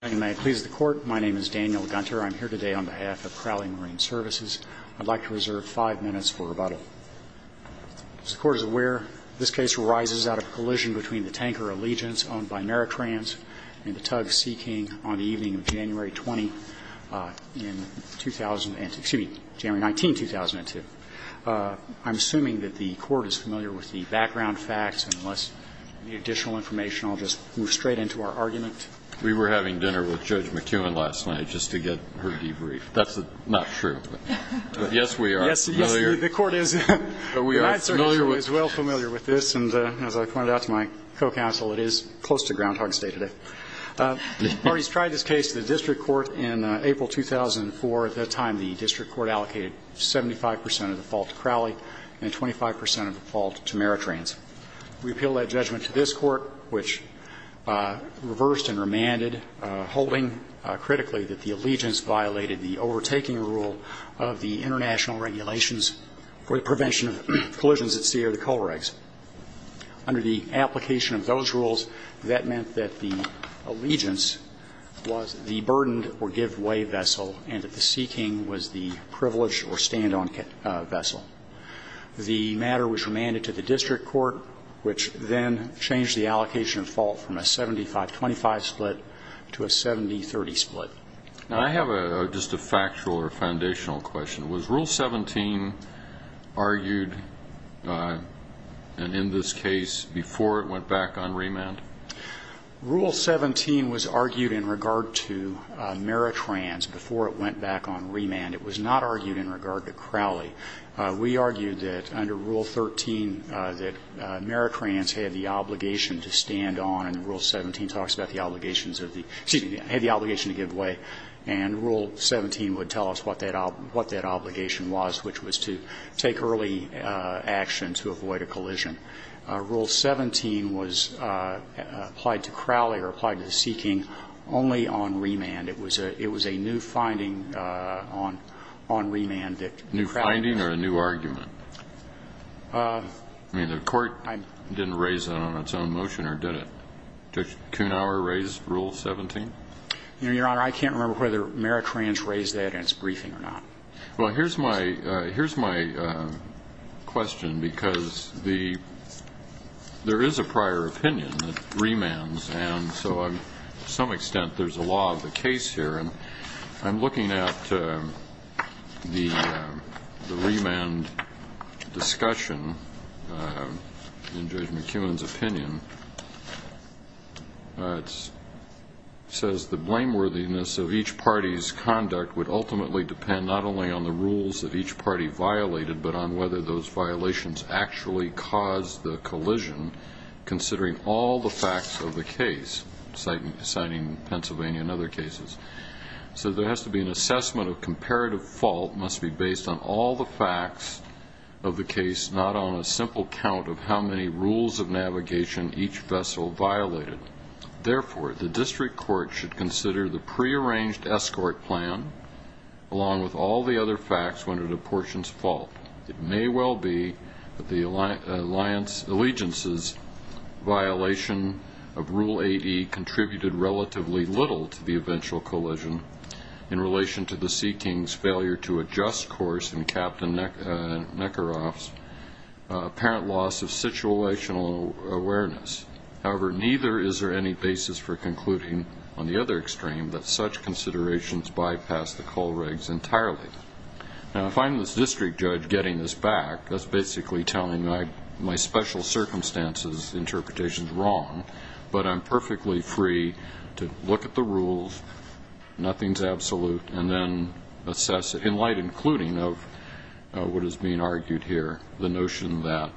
I'm here today on behalf of Crowley Marine Services. I'd like to reserve five minutes for rebuttal. As the Court is aware, this case arises out of a collision between the Tanker Allegiance owned by Maritrans and the Tug Sea King on the evening of January 20, in 2000 and, excuse me, January 19, 2002. I'm assuming that the Court is familiar with the background facts, and unless you need additional information, I'll just move straight into our argument. We were having dinner with Judge McKeown last night just to get her debrief. That's not true. But, yes, we are familiar. Yes, the Court is. But we are familiar with it. The Court is well familiar with this, and as I pointed out to my co-counsel, it is close to Groundhog Day today. The parties tried this case to the district court in April 2004. At that time, the district court allocated 75 percent of the fault to Crowley and 25 percent of the fault to Maritrans. We appeal that judgment to this Court, which reversed and remanded, holding critically that the allegiance violated the overtaking rule of the international regulations for the prevention of collisions at Sierra de Colreggs. Under the application of those rules, that meant that the allegiance was the burdened or give-away vessel and that the Sea King was the privileged or stand-on vessel. The matter was remanded to the district court, which then changed the allocation of fault from a 75-25 split to a 70-30 split. I have just a factual or foundational question. Was Rule 17 argued in this case before it went back on remand? Rule 17 was argued in regard to Maritrans before it went back on remand. It was not argued in regard to Crowley. We argued that under Rule 13 that Maritrans had the obligation to stand on, and Rule 17 talks about the obligations of the – excuse me, had the obligation to give way. And Rule 17 would tell us what that obligation was, which was to take early action to avoid a collision. Rule 17 was applied to Crowley or applied to the Sea King only on remand. It was a new finding on remand that Crowley used. New finding or a new argument? I mean, the court didn't raise that on its own motion or did it? Judge Kuhnhauer raised Rule 17? Your Honor, I can't remember whether Maritrans raised that in its briefing or not. Well, here's my question, because the – there is a prior opinion that remands, and so to some extent there's a law of the case here. And I'm looking at the remand discussion in Judge McKeown's opinion. It says the blameworthiness of each party's conduct would ultimately depend not only on the rules that each party violated but on whether those violations actually caused the collision considering all the facts of the case, citing Pennsylvania and other cases. So there has to be an assessment of comparative fault must be based on all the facts of the case, not on a simple count of how many rules of navigation each vessel violated. Therefore, the district court should consider the prearranged escort plan along with all the other facts when it apportions fault. It may well be that the allegiance's violation of Rule 8E contributed relatively little to the eventual collision in relation to the Seaking's failure to adjust course in Captain Neckeroff's apparent loss of situational awareness. However, neither is there any basis for concluding on the other extreme that such considerations bypass the Kohlregs entirely. Now, if I'm this district judge getting this back, that's basically telling my special circumstances interpretations wrong, but I'm perfectly free to look at the rules, nothing's absolute, and then assess it in light including of what is being argued here, the notion that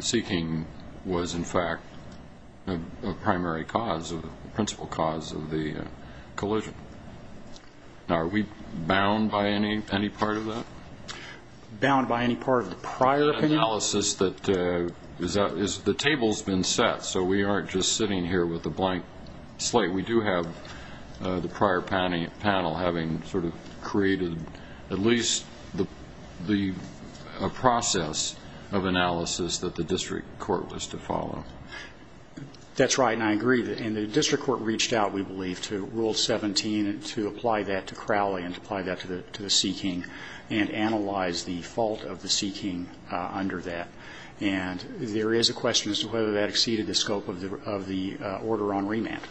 Seaking was, in fact, a primary cause, a principal cause of the collision. Now, are we bound by any part of that? Bound by any part of the prior opinion? Analysis that the table's been set, so we aren't just sitting here with a blank slate. We do have the prior panel having sort of created at least a process of analysis that the district court was to follow. That's right, and I agree. And the district court reached out, we believe, to Rule 17 to apply that to Crowley and to apply that to the Seaking and analyze the fault of the Seaking under that. And there is a question as to whether that exceeded the scope of the order on remand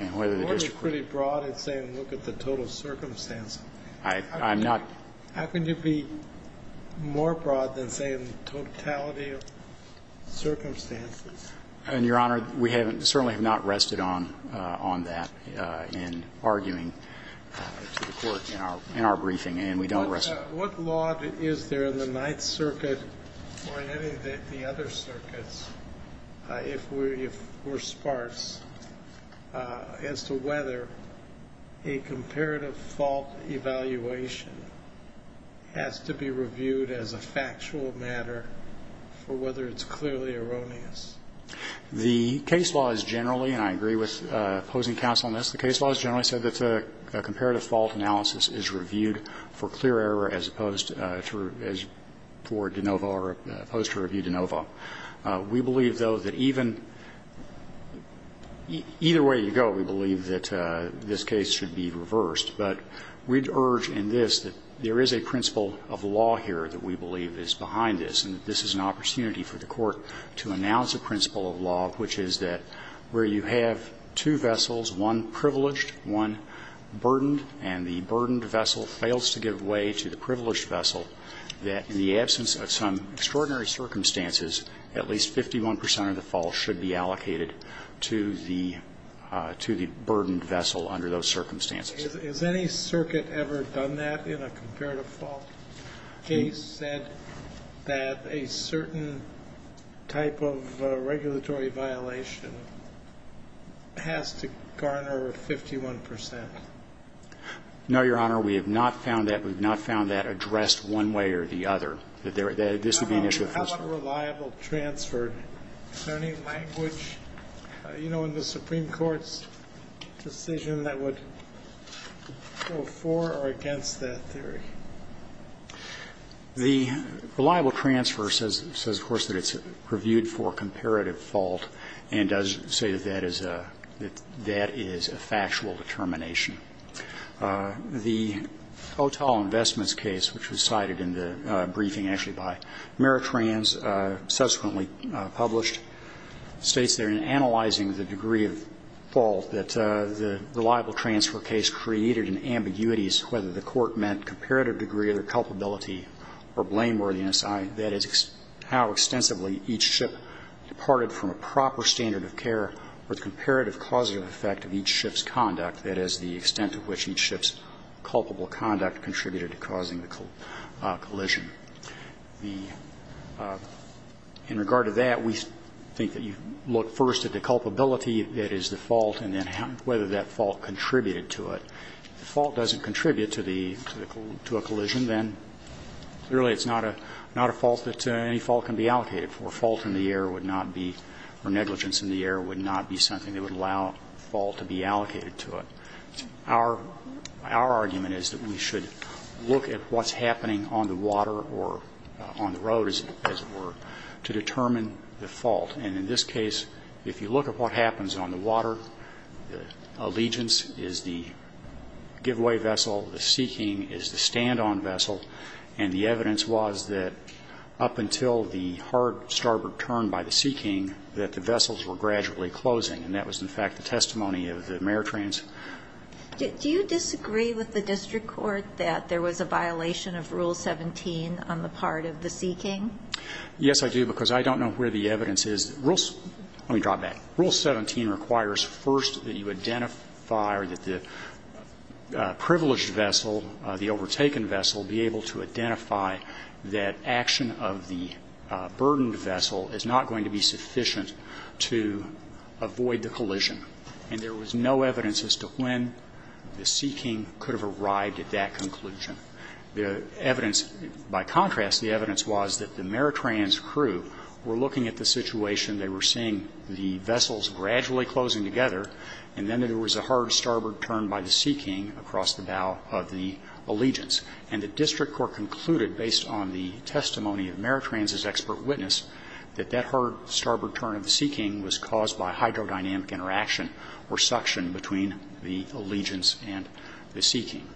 and whether the district court ---- The order's pretty broad. It's saying look at the total circumstance. I'm not ---- How can you be more broad than saying totality of circumstances? And, Your Honor, we certainly have not rested on that in arguing to the court in our briefing, and we don't rest ---- What law is there in the Ninth Circuit or in any of the other circuits, if we're as to whether a comparative fault evaluation has to be reviewed as a factual matter for whether it's clearly erroneous? The case law is generally, and I agree with opposing counsel on this, the case law is generally said that a comparative fault analysis is reviewed for clear error as opposed to review de novo. We believe, though, that even ---- either way you go, we believe that this case should be reversed. But we'd urge in this that there is a principle of law here that we believe is behind this, and this is an opportunity for the Court to announce a principle of law, which is that where you have two vessels, one privileged, one burdened, and the burdened vessel fails to give way to the privileged vessel, that in the absence of some extraordinary circumstances, at least 51 percent of the fault should be allocated to the burdened vessel under those circumstances. Has any circuit ever done that in a comparative fault case, said that a certain type of regulatory violation has to garner 51 percent? No, Your Honor. We have not found that. We have not found that addressed one way or the other, that this would be an issue of principle. How about a reliable transfer? Is there any language, you know, in the Supreme Court's decision that would go for or against that theory? The reliable transfer says, of course, that it's reviewed for comparative fault and does say that that is a factual determination. The Otell Investments case, which was cited in the briefing actually by Meritrans subsequently published, states there in analyzing the degree of fault that the reliable transfer case created in ambiguities whether the Court meant comparative degree of culpability or blameworthiness, that is, how extensively each ship departed from a proper standard of care or the comparative causative effect of each ship's conduct, that is, the extent to which each ship's culpable conduct contributed to causing the collision. In regard to that, we think that you look first at the culpability, that is, the fault, and then whether that fault contributed to it. If the fault doesn't contribute to a collision, then clearly it's not a fault that any fault can be allocated for. A fault in the air would not be or negligence in the air would not be something that would allow a fault to be allocated to it. Our argument is that we should look at what's happening on the water or on the road, as it were, to determine the fault. And in this case, if you look at what happens on the water, Allegiance is the giveaway vessel, the Seeking is the stand-on vessel, and the evidence was that up until the hard starboard turn by the Seeking that the vessels were gradually closing, and that was, in fact, the testimony of the Maritrains. Do you disagree with the district court that there was a violation of Rule 17 on the part of the Seeking? Yes, I do, because I don't know where the evidence is. Rule 17 requires first that you identify or that the privileged vessel, the overtaken vessel, be able to identify that action of the burdened vessel is not going to be sufficient to avoid the collision. And there was no evidence as to when the Seeking could have arrived at that conclusion. The evidence, by contrast, the evidence was that the Maritrains' crew were looking at the situation, they were seeing the vessels gradually closing together, and then there was a hard starboard turn by the Seeking across the bow of the Allegiance. And the district court concluded, based on the testimony of Maritrains' expert witness, that that hard starboard turn of the Seeking was caused by hydrodynamic interaction or suction between the Allegiance and the Seeking.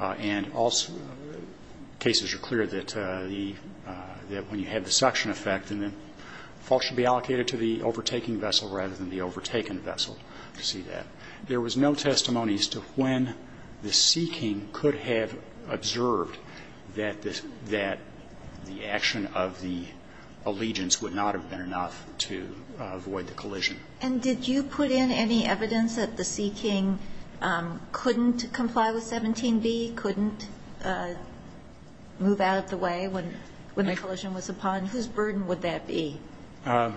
And all cases are clear that the – that when you have the suction effect, then the fault should be allocated to the overtaking vessel rather than the overtaken vessel to see that. There was no testimony as to when the Seeking could have observed that the action of the Allegiance would not have been enough to avoid the collision. And did you put in any evidence that the Seeking couldn't comply with 17b, couldn't move out of the way when the collision was upon? Whose burden would that be? The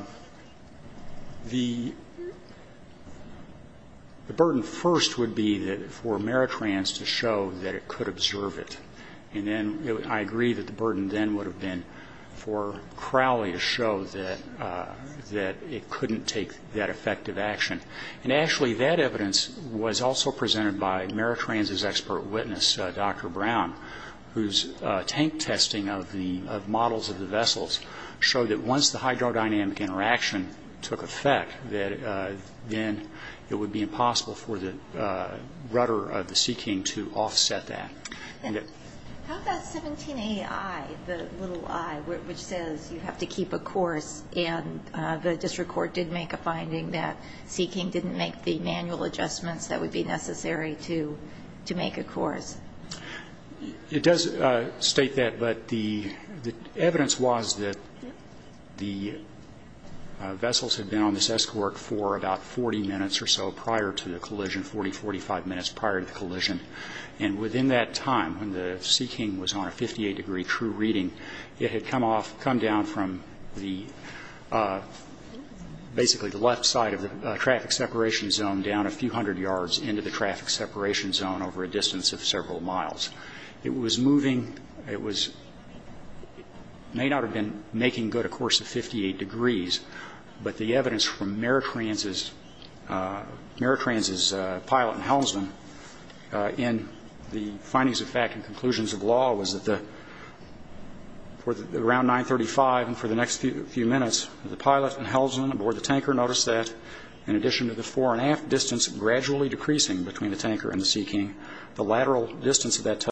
burden first would be for Maritrains to show that it could observe it. And then I agree that the burden then would have been for Crowley to show that it couldn't take that effective action. And actually, that evidence was also presented by Maritrains' expert witness, Dr. Brown, whose tank testing of the models of the vessels showed that once the hydrodynamic interaction took effect, that then it would be impossible for the rudder of the Seeking to offset that. How about 17ai, the little i, which says you have to keep a course? And the district court did make a finding that Seeking didn't make the manual adjustments that would be necessary to make a course. It does state that. But the evidence was that the vessels had been on this escort for about 40 minutes or so prior to the collision, 40, 45 minutes prior to the collision. And within that time, when the Seeking was on a 58-degree crew reading, it had come off, come down from basically the left side of the traffic separation zone down a few hundred yards into the traffic separation zone over a distance of several miles. It was moving. It may not have been making good a course of 58 degrees, but the evidence from Maritrains' pilot in Helmsman in the findings of fact and conclusions of law was that for around 935 and for the next few minutes, the pilot in Helmsman aboard the tanker noticed that in addition to the fore and aft distance gradually decreasing between the tanker and the Seeking, the lateral distance of that tugboat,